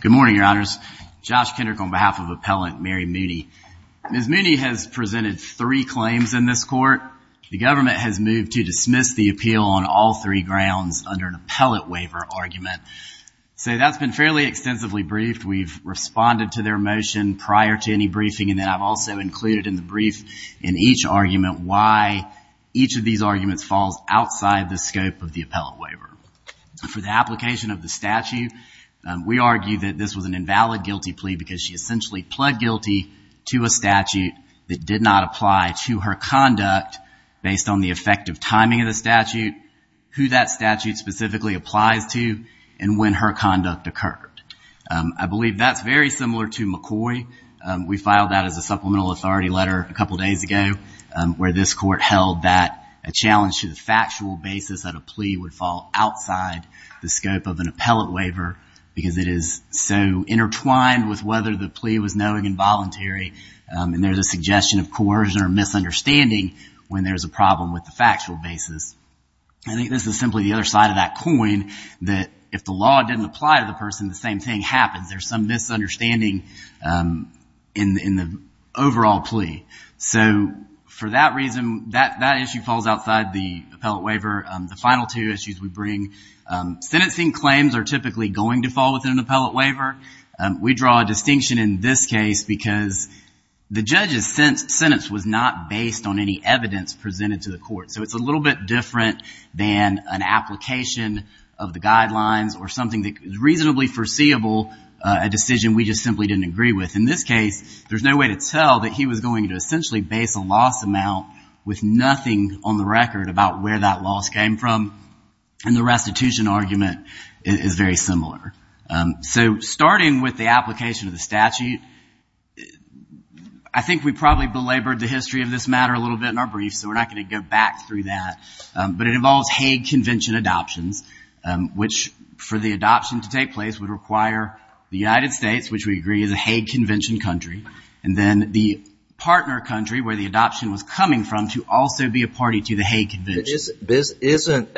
Good morning your honors. Josh Kendrick on behalf of appellant Mary Mooney. Ms. Mooney has presented three claims in this court. The government has moved to dismiss the appeal on all three grounds under an appellate waiver argument. So that's been fairly extensively briefed. We've responded to their motion prior to any briefing and then I've also included in the brief in each argument why each of these arguments falls outside the scope of the appellate waiver. For the argument this was an invalid guilty plea because she essentially pled guilty to a statute that did not apply to her conduct based on the effective timing of the statute, who that statute specifically applies to, and when her conduct occurred. I believe that's very similar to McCoy. We filed that as a supplemental authority letter a couple days ago where this court held that a challenge to the factual basis that a plea would fall outside the scope of an appellate waiver is so intertwined with whether the plea was knowing and voluntary and there's a suggestion of coercion or misunderstanding when there's a problem with the factual basis. I think this is simply the other side of that coin that if the law didn't apply to the person the same thing happens. There's some misunderstanding in the overall plea. So for that reason that issue falls outside the appellate waiver. The final two issues we bring. Sentencing claims are typically going to fall within an appellate waiver. We draw a distinction in this case because the judge's sentence was not based on any evidence presented to the court. So it's a little bit different than an application of the guidelines or something that is reasonably foreseeable, a decision we just simply didn't agree with. In this case there's no way to tell that he was going to essentially base a loss amount with nothing on the record about where that loss came from and the restitution argument is very similar. So starting with the application of the statute I think we probably belabored the history of this matter a little bit in our brief so we're not going to go back through that but it involves Hague Convention adoptions which for the adoption to take place would require the United States which we agree is a Hague Convention country and then the partner country where the adoption was coming from to also be a party to the Hague Convention. Isn't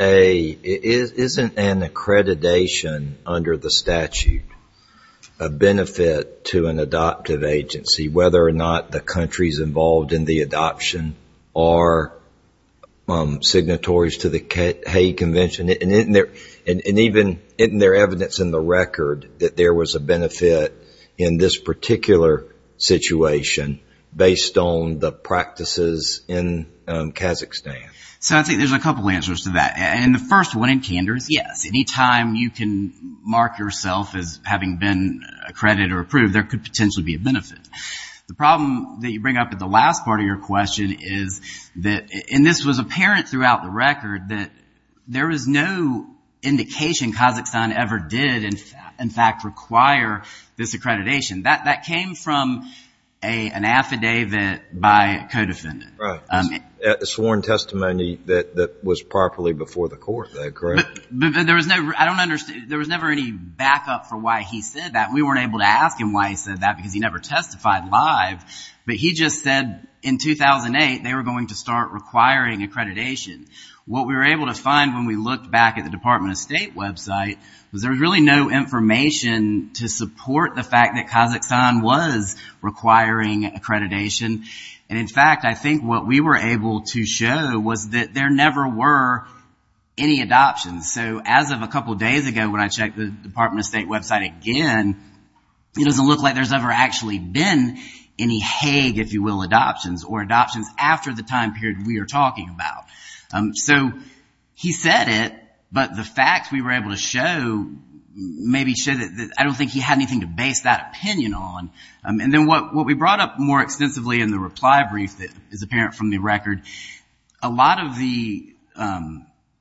an accreditation under the statute a benefit to an adoptive agency whether or not the countries involved in the adoption are signatories to the Hague Convention and isn't there evidence in the record that there was a benefit to the practices in Kazakhstan? So I think there's a couple answers to that and the first one in candors yes any time you can mark yourself as having been accredited or approved there could potentially be a benefit. The problem that you bring up at the last part of your question is that and this was apparent throughout the record that there is no indication Kazakhstan ever did in fact require this accreditation. That came from an affidavit by a co-defendant. A sworn testimony that was properly before the court, correct? There was never any backup for why he said that. We weren't able to ask him why he said that because he never testified live but he just said in 2008 they were going to start requiring accreditation. What we were able to find when we looked back at the Department of State website was there was really no information to support the fact that Kazakhstan was requiring accreditation and in fact I think what we were able to show was that there never were any adoptions. So as of a couple days ago when I checked the Department of State website again it doesn't look like there's ever actually been any Hague if you will adoptions or adoptions after the time period we are talking about. So he said it but the facts we were able to show maybe show that I don't think he had anything to base that opinion on and then what we brought up more extensively in the reply brief that is apparent from the record a lot of the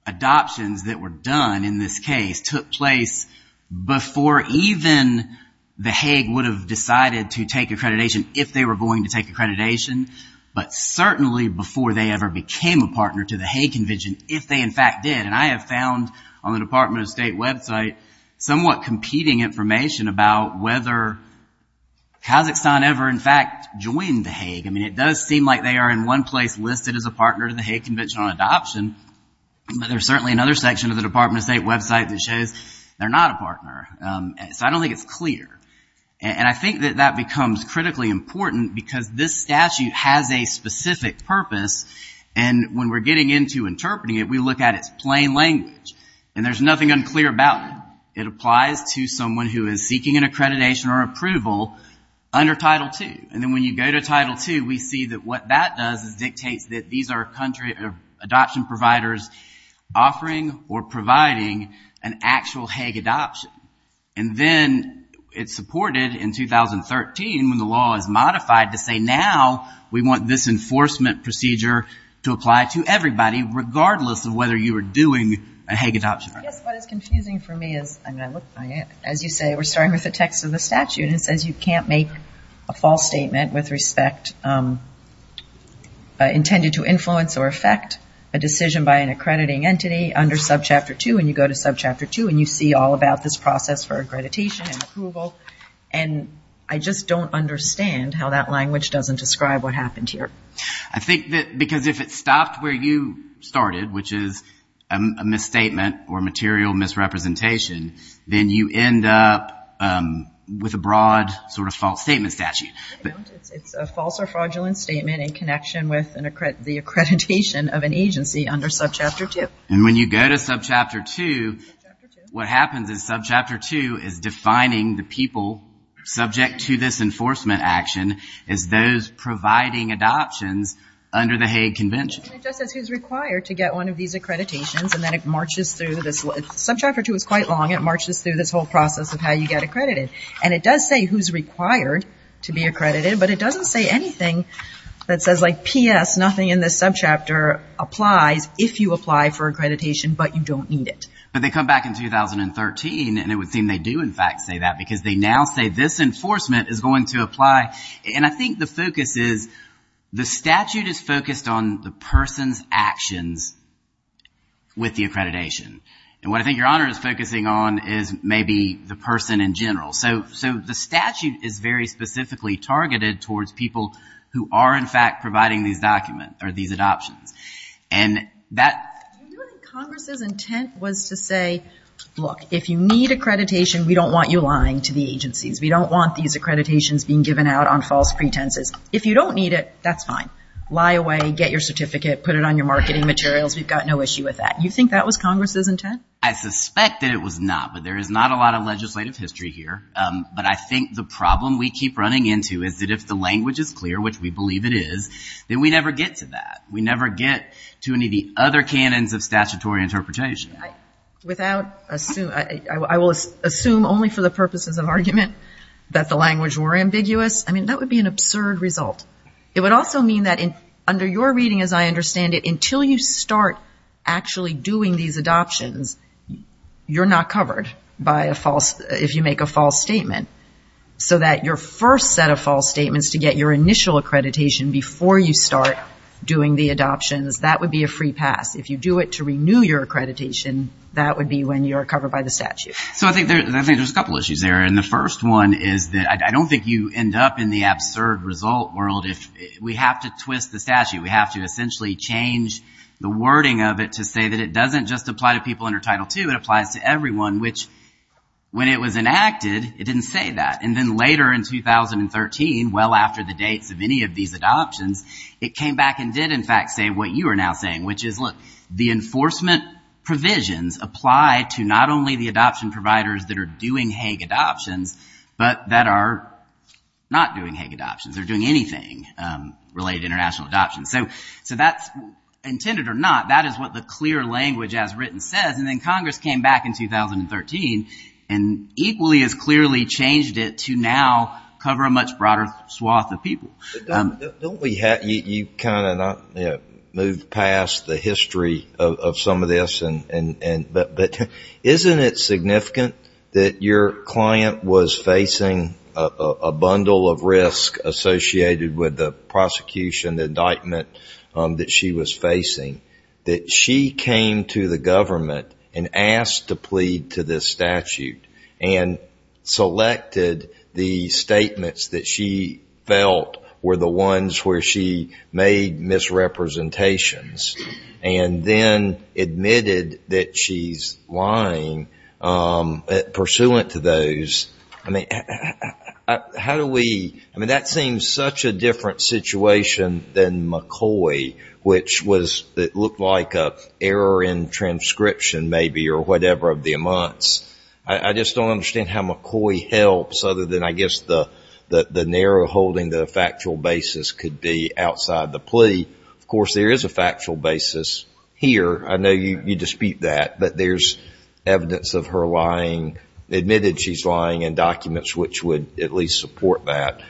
adoptions that were done in this case took place before even the Hague would have decided to take accreditation if they were going to take accreditation but certainly before they ever became a partner to the Hague Convention if they in fact did and I have found on the Department of State website somewhat competing information about whether Kazakhstan ever in fact joined the Hague. I mean it does seem like they are in one place listed as a partner to the Hague Convention on adoption but there's certainly another section of the Department of State website that shows they're not a partner. So I don't think it's clear and I think that that becomes critically important because this statute has a specific purpose and when we're getting into interpreting it we look at its plain language and there's nothing unclear about it. It applies to someone who is seeking an accreditation or approval under Title 2 and then when you go to Title 2 we see that what that does is dictates that these are country adoption providers offering or providing an actual Hague adoption and then it's reported in 2013 when the law is modified to say now we want this enforcement procedure to apply to everybody regardless of whether you were doing a Hague adoption. Yes, but it's confusing for me as you say we're starting with the text of the statute and it says you can't make a false statement with respect intended to influence or affect a decision by an accrediting entity under Subchapter 2 and you go to Subchapter 2 and you see all about this process for accreditation and approval and I just don't understand how that language doesn't describe what happened here. I think that because if it stopped where you started which is a misstatement or material misrepresentation then you end up with a broad sort of false statement statute. It's a false or fraudulent statement in connection with the accreditation of an agency under Subchapter 2. And when you go to Subchapter 2 what happens is Subchapter 2 is defining the people subject to this enforcement action as those providing adoptions under the Hague Convention. It just says who's required to get one of these accreditations and then it marches through this, Subchapter 2 is quite long, it marches through this whole process of how you get accredited and it does say who's required to be accredited but it doesn't say anything that says like P.S. nothing in this chapter applies if you apply for accreditation but you don't need it. But they come back in 2013 and it would seem they do in fact say that because they now say this enforcement is going to apply and I think the focus is the statute is focused on the person's actions with the accreditation and what I think your honor is focusing on is maybe the person in general so so the statute is very specifically targeted towards people who are in fact providing these documents or these adoptions and that Congress's intent was to say look if you need accreditation we don't want you lying to the agencies we don't want these accreditations being given out on false pretenses if you don't need it that's fine lie away get your certificate put it on your marketing materials we've got no issue with that you think that was Congress's intent? I suspect that it was not but there is not a lot of legislative history here but I think the problem we keep running into is that if the language is clear which we believe it is then we never get to that we never get to any of the other canons of statutory interpretation without assume I will assume only for the purposes of argument that the language were ambiguous I mean that would be an absurd result it would also mean that in under your reading as I understand it until you start actually doing these adoptions you're not covered by a false if you make a false statement so that your first set of false statements to get your initial accreditation before you start doing the adoptions that would be a free pass if you do it to renew your accreditation that would be when you're covered by the statute. So I think there's a couple issues there and the first one is that I don't think you end up in the absurd result world if we have to twist the statute we have to essentially change the wording of it to say that it doesn't just apply to people under title 2 it applies to everyone which when it was enacted it didn't say that and then later in 2013 well after the dates of any of these adoptions it came back and did in fact say what you are now saying which is look the enforcement provisions apply to not only the adoption providers that are doing Hague adoptions but that are not doing Hague adoptions they're doing anything related international adoption so so that's intended or not that is what the clear language as written says and then Congress came back in 2013 and equally as clearly changed it to now cover a much broader swath of people. Don't we have you kind of moved past the history of some of this and but isn't it significant that your client was facing a bundle of risk associated with the prosecution the indictment that she was facing that she came to the government and asked to the statements that she felt were the ones where she made misrepresentations and then admitted that she's lying pursuant to those I mean how do we I mean that seems such a different situation than McCoy which was it looked like a error in transcription maybe or whatever of the amounts I just don't understand how McCoy helps other than I guess the that the narrow holding the factual basis could be outside the plea of course there is a factual basis here I know you dispute that but there's evidence of her lying admitted she's lying and documents which would at least support that.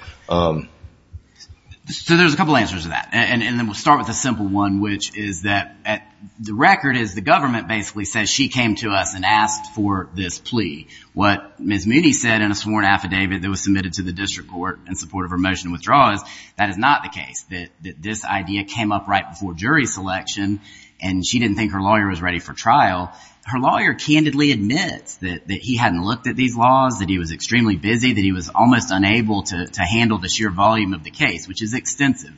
So there's a couple answers to that and then we'll start with a simple one which is that at the record is the government basically says she came to us and asked for this plea what Ms. Mooney said in a sworn affidavit that was submitted to the district court in support of her motion withdraws that is not the case that this idea came up right before jury selection and she didn't think her lawyer was ready for trial her lawyer candidly admits that he hadn't looked at these laws that he was extremely busy that he was almost unable to handle the sheer volume of the case which is extensive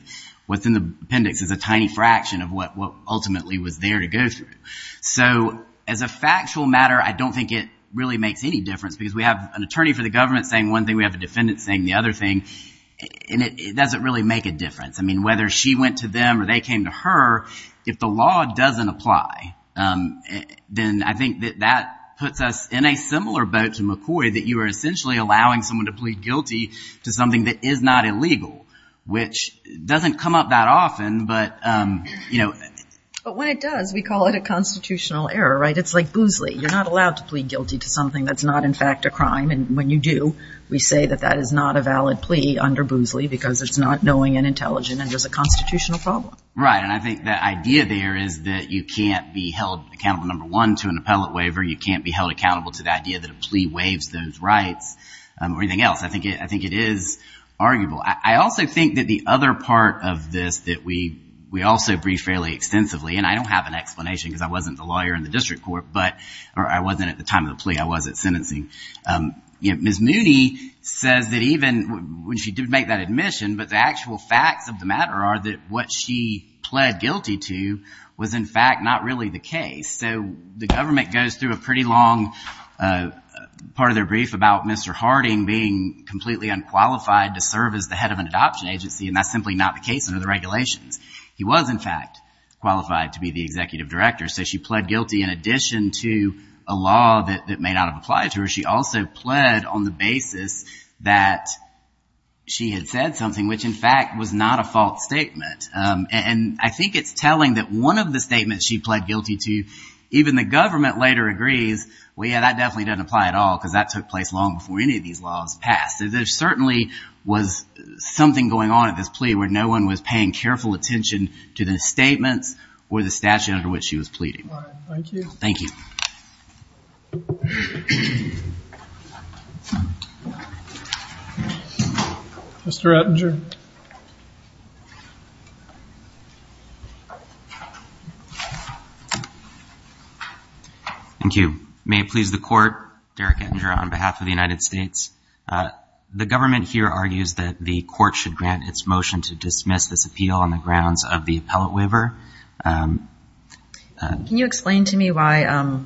within the appendix is a tiny fraction of what what ultimately was there to go through so as a factual matter I don't think it really makes any difference because we have an attorney for the government saying one thing we have a defendant saying the other thing and it doesn't really make a difference I mean whether she went to them or they came to her if the law doesn't apply then I think that that puts us in a similar boat to McCoy that you are essentially allowing someone to plead guilty to something that is not illegal which doesn't come up that often but you know but when it does we call it a constitutional error right it's like you're not allowed to plead guilty to something that's not in fact a crime and when you do we say that that is not a valid plea under Boosley because it's not knowing and intelligent and there's a constitutional problem right and I think that idea there is that you can't be held accountable number one to an appellate waiver you can't be held accountable to the idea that a plea waives those rights or anything else I think it I think it is arguable I also think that the other part of this that we we also brief fairly extensively and I don't have an explanation because I wasn't the lawyer in the district court but or I wasn't at the time of the plea I was at sentencing you know miss Mooney says that even when she did make that admission but the actual facts of the matter are that what she pled guilty to was in fact not really the case so the government goes through a pretty long part of their brief about mr. Harding being completely unqualified to serve as the head of an adoption agency and that's simply not the case under the regulations he was in fact qualified to be the executive director so she pled guilty in addition to a law that may not have applied to her she also pled on the basis that she had said something which in fact was not a false statement and I think it's telling that one of the statements she pled guilty to even the government later agrees well yeah that definitely doesn't apply at all because that took place long before any of these laws passed there certainly was something going on at this plea where no one was paying careful attention to the statements or the statute under which she was pleading thank you mr. Attinger thank you may it please the court Derek Attinger on behalf of the United States the government here argues that the court should grant its motion to dismiss this appeal on the grounds of the appellate waiver can you explain to me why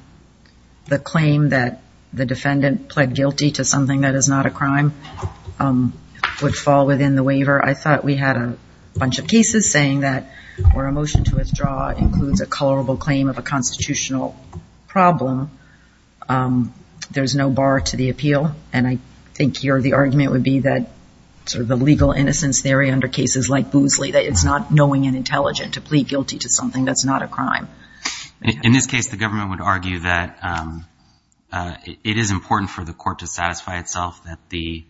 the claim that the defendant pled guilty to something that is not a crime would fall within the waiver I thought we had a bunch of cases saying that or a motion to withdraw includes a colorable claim of a constitutional problem there's no bar to the appeal and I think here the argument would be that sort of legal innocence theory under cases like Boosley that it's not knowing and intelligent to plead guilty to something that's not a crime in this case the government would argue that it is important for the court to satisfy itself that the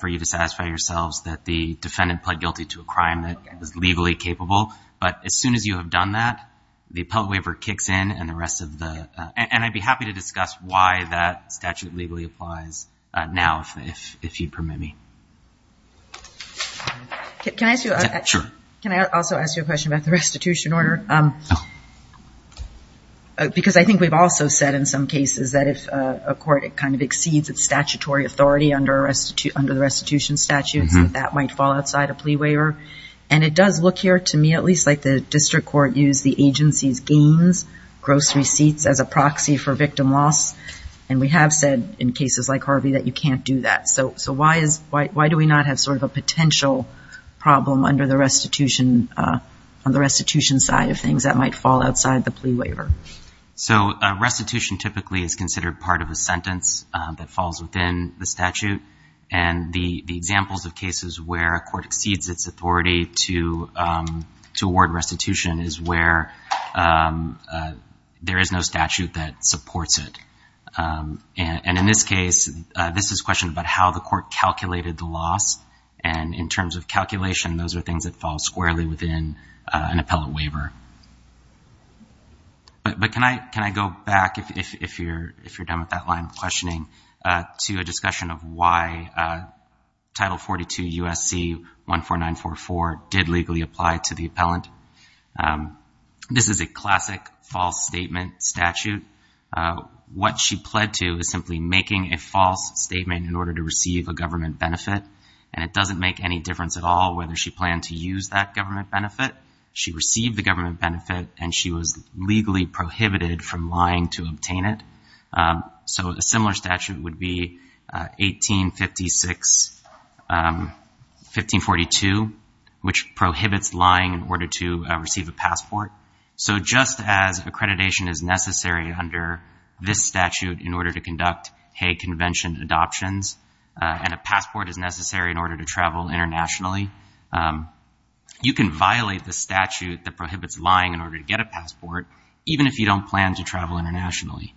for you to satisfy yourselves that the defendant pled guilty to a crime that is legally capable but as soon as you have done that the appellate waiver kicks in and the rest of the and I'd be happy to can I ask you can I also ask you a question about the restitution order because I think we've also said in some cases that if a court it kind of exceeds its statutory authority under arrest to under the restitution statute that might fall outside a plea waiver and it does look here to me at least like the district court use the agency's gains gross receipts as a proxy for victim loss and we have said in cases like Harvey that you can't do that so so why is why do we not have sort of a potential problem under the restitution on the restitution side of things that might fall outside the plea waiver so a restitution typically is considered part of a sentence that falls within the statute and the the examples of cases where a court exceeds its authority to to award restitution is where there is no statute that supports it and in this case this is question about how the court calculated the loss and in terms of calculation those are things that fall squarely within an appellate waiver but but can I can I go back if you're if you're done with that line of questioning to a discussion of why title 42 USC 14944 did legally apply to the appellant this is a classic false statement statute what she pled to is making a false statement in order to receive a government benefit and it doesn't make any difference at all whether she planned to use that government benefit she received the government benefit and she was legally prohibited from lying to obtain it so a similar statute would be 1856 1542 which prohibits lying in order to receive a passport so just as accreditation is necessary in order to conduct Hague Convention adoptions and a passport is necessary in order to travel internationally you can violate the statute that prohibits lying in order to get a passport even if you don't plan to travel internationally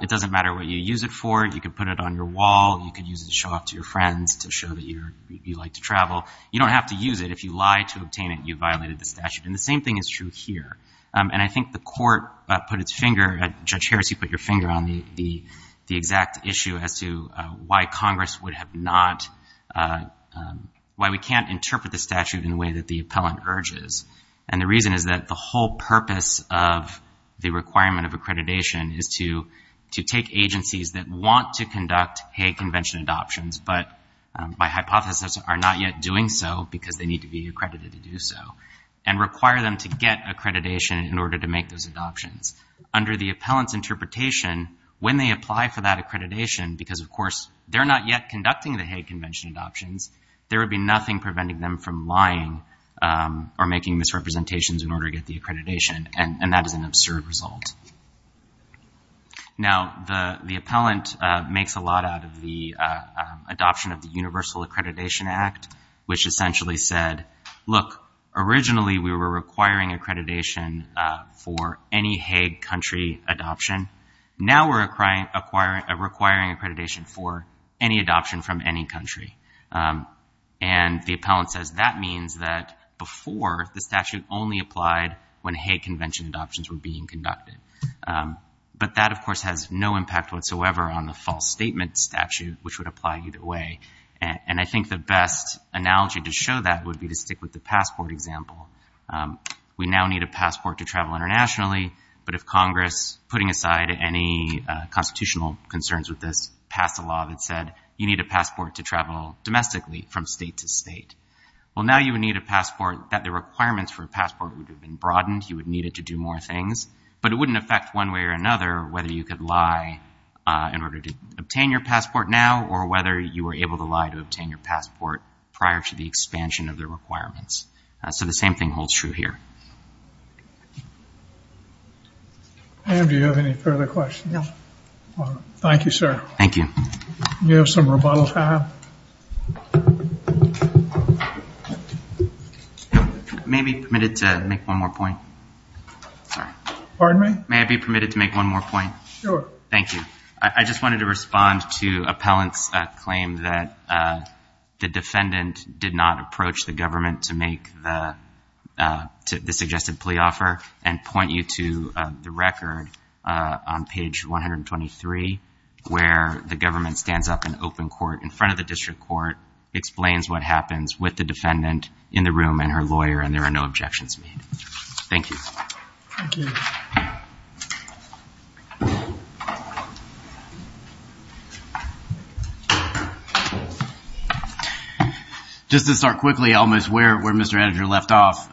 it doesn't matter what you use it for you can put it on your wall you can use it to show off to your friends to show that you're you like to travel you don't have to use it if you lie to obtain it you violated the statute and the same thing is true here and I think the court put its finger at Judge Harris you put your finger on the the exact issue as to why Congress would have not why we can't interpret the statute in a way that the appellant urges and the reason is that the whole purpose of the requirement of accreditation is to to take agencies that want to conduct Hague Convention adoptions but by hypothesis are not yet doing so because they need to be accredited to do so and require them to get accreditation in order to make those adoptions under the appellant's interpretation when they apply for that accreditation because of course they're not yet conducting the Hague Convention adoptions there would be nothing preventing them from lying or making misrepresentations in order to get the accreditation and and that is an absurd result now the the appellant makes a lot out of the adoption of the Universal Accreditation Act which essentially said look originally we were requiring accreditation for any Hague country adoption now we're requiring accreditation for any adoption from any country and the appellant says that means that before the statute only applied when Hague Convention adoptions were being conducted but that of course has no impact whatsoever on the false statement statute which would apply either way and I think the best analogy to show that would be to stick with the passport example we now need a passport to travel internationally but if Congress putting aside any constitutional concerns with this passed a law that said you need a passport to travel domestically from state to state well now you would need a passport that the requirements for a passport would have been broadened you would need it to do more things but it wouldn't affect one way or another whether you could lie in order to obtain your passport now or whether you were able to lie to obtain your passport prior to the expansion of their requirements so the same thing holds true here. Do you have any further questions? No. Thank you sir. Thank you. You have some rebuttal time. May I be permitted to make one more point? Pardon me? May I be permitted to make one more point? Sure. Thank you. I just wanted to respond to the defendant did not approach the government to make the suggested plea offer and point you to the record on page 123 where the government stands up an open court in front of the district court explains what happens with the defendant in the room and her lawyer and there are no objections made. Thank you. Just to start quickly almost where where Mr. Edger left off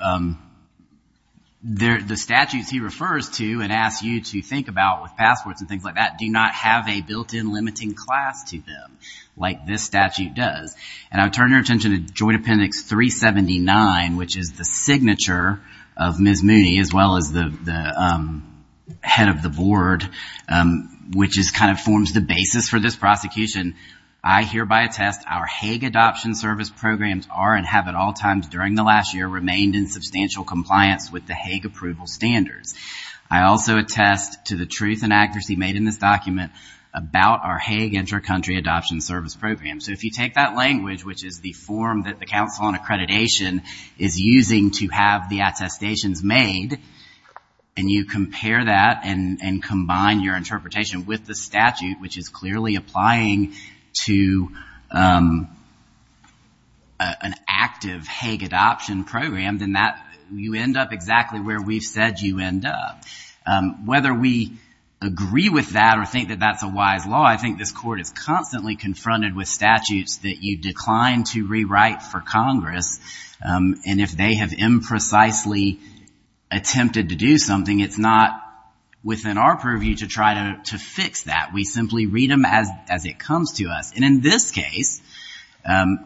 there the statutes he refers to and asks you to think about with passports and things like that do not have a built-in limiting class to them like this statute does and I would turn your attention to Joint Appendix 379 which is the signature of Ms. Mooney as well as the head of the board which is kind of forms the basis for this our Hague Adoption Service programs are and have at all times during the last year remained in substantial compliance with the Hague approval standards. I also attest to the truth and accuracy made in this document about our Hague Intercountry Adoption Service program. So if you take that language which is the form that the Council on Accreditation is using to have the attestations made and you compare that and and combine your interpretation with the statute which is clearly applying to an active Hague adoption program then that you end up exactly where we've said you end up. Whether we agree with that or think that that's a wise law I think this court is constantly confronted with statutes that you decline to rewrite for Congress and if they have imprecisely attempted to do something it's not within our purview to try to to fix that we simply read them as as it comes to us and in this case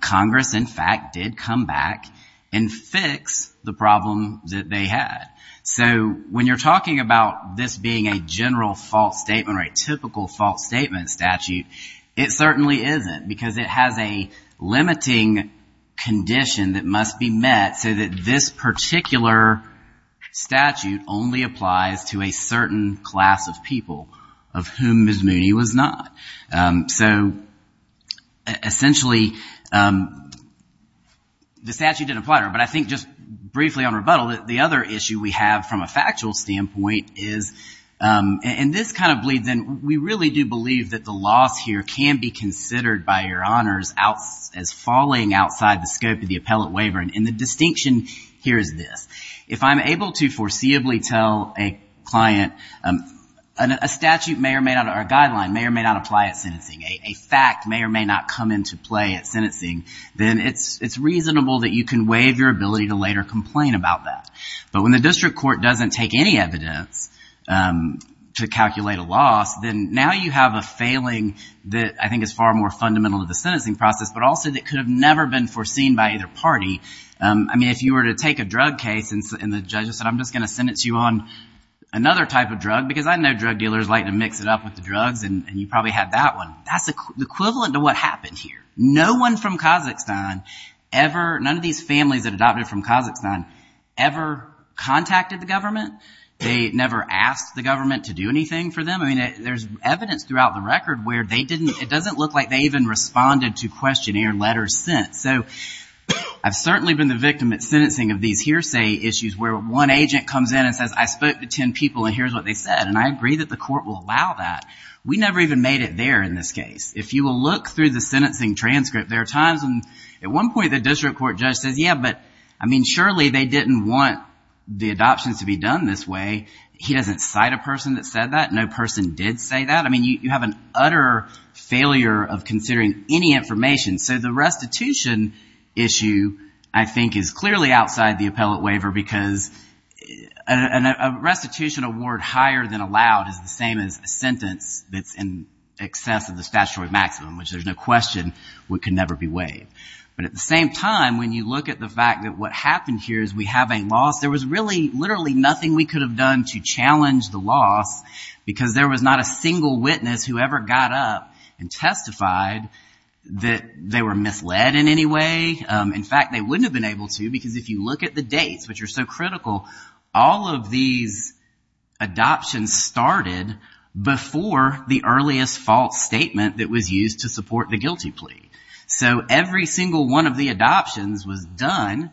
Congress in fact did come back and fix the problem that they had. So when you're talking about this being a general false statement or a typical false statement statute it certainly isn't because it has a limiting condition that must be met so that this particular statute only applies to a certain class of people of whom Ms. Mooney was not. So essentially the statute didn't apply to her but I think just briefly on rebuttal that the other issue we have from a factual standpoint is and this kind of bleeds in we really do believe that the loss here can be considered by your honors as falling outside the scope of the appellate waiver and the if I'm able to foreseeably tell a client a statute may or may not our guideline may or may not apply at sentencing a fact may or may not come into play at sentencing then it's it's reasonable that you can waive your ability to later complain about that but when the district court doesn't take any evidence to calculate a loss then now you have a failing that I think is far more fundamental to the sentencing process but also that could have never been foreseen by either party I mean if you were to take a drug case and the judge said I'm just gonna sentence you on another type of drug because I know drug dealers like to mix it up with the drugs and you probably had that one that's equivalent to what happened here no one from Kazakhstan ever none of these families that adopted from Kazakhstan ever contacted the government they never asked the government to do anything for them I mean there's evidence throughout the record where they didn't it doesn't look like they I've certainly been the victim at sentencing of these hearsay issues where one agent comes in and says I spoke to ten people and here's what they said and I agree that the court will allow that we never even made it there in this case if you will look through the sentencing transcript there are times and at one point the district court judge says yeah but I mean surely they didn't want the adoptions to be done this way he doesn't cite a person that said that no person did say that I mean you have an utter failure of considering any information so the restitution issue I think is clearly outside the appellate waiver because a restitution award higher than allowed is the same as a sentence that's in excess of the statutory maximum which there's no question we could never be waived but at the same time when you look at the fact that what happened here is we have a loss there was really literally nothing we could have done to challenge the loss because there was not a single witness who ever got up and they were misled in any way in fact they wouldn't have been able to because if you look at the dates which are so critical all of these adoptions started before the earliest false statement that was used to support the guilty plea so every single one of the adoptions was done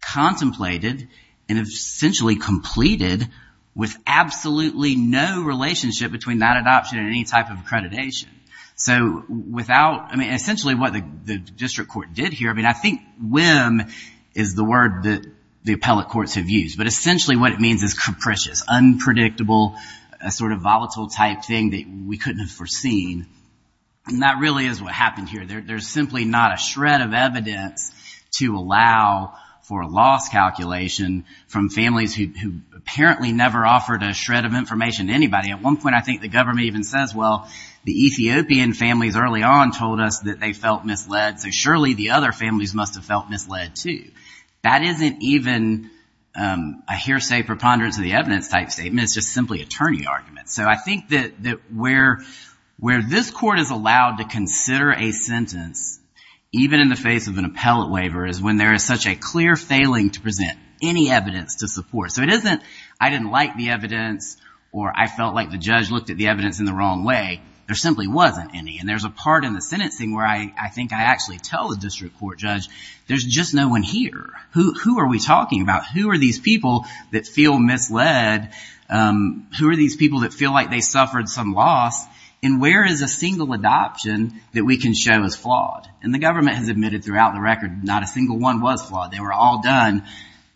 contemplated and essentially completed with absolutely no relationship between that adoption and type of accreditation so without I mean essentially what the district court did here I mean I think whim is the word that the appellate courts have used but essentially what it means is capricious unpredictable a sort of volatile type thing that we couldn't have foreseen and that really is what happened here there's simply not a shred of evidence to allow for a loss calculation from families who apparently never offered a shred of information to anybody at one point I think the government even says well the Ethiopian families early on told us that they felt misled so surely the other families must have felt misled too that isn't even a hearsay preponderance of the evidence type statement it's just simply attorney arguments so I think that that where where this court is allowed to consider a sentence even in the face of an appellate waiver is when there is such a clear failing to present any evidence to look at the evidence in the wrong way there simply wasn't any and there's a part in the sentencing where I I think I actually tell the district court judge there's just no one here who are we talking about who are these people that feel misled who are these people that feel like they suffered some loss and where is a single adoption that we can show is flawed and the government has admitted throughout the record not a single one was flawed they were all done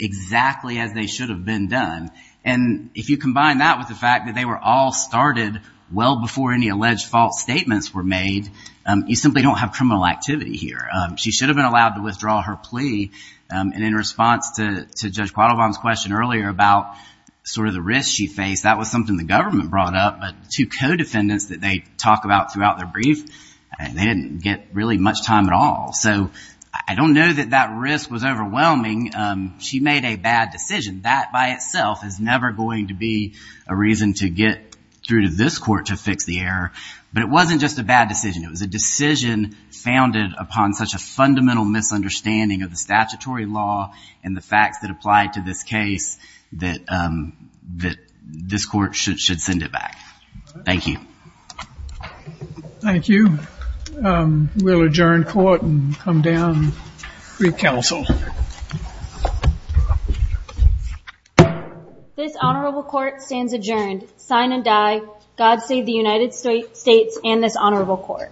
exactly as they should have been done and if you combine that with the fact that they were all started well before any alleged fault statements were made you simply don't have criminal activity here she should have been allowed to withdraw her plea and in response to Judge Quattlebaum's question earlier about sort of the risk she faced that was something the government brought up but two co-defendants that they talked about throughout their brief and they didn't get really much time at all so I don't know that that risk was overwhelming she made a bad decision that by itself is never going to be a reason to get through to this court to fix the error but it wasn't just a bad decision it was a decision founded upon such a fundamental misunderstanding of the statutory law and the facts that apply to this case that that this court should should send it back thank you thank you we'll adjourn court and come down recouncil this honorable court stands adjourned sign and die God save the United States and this honorable court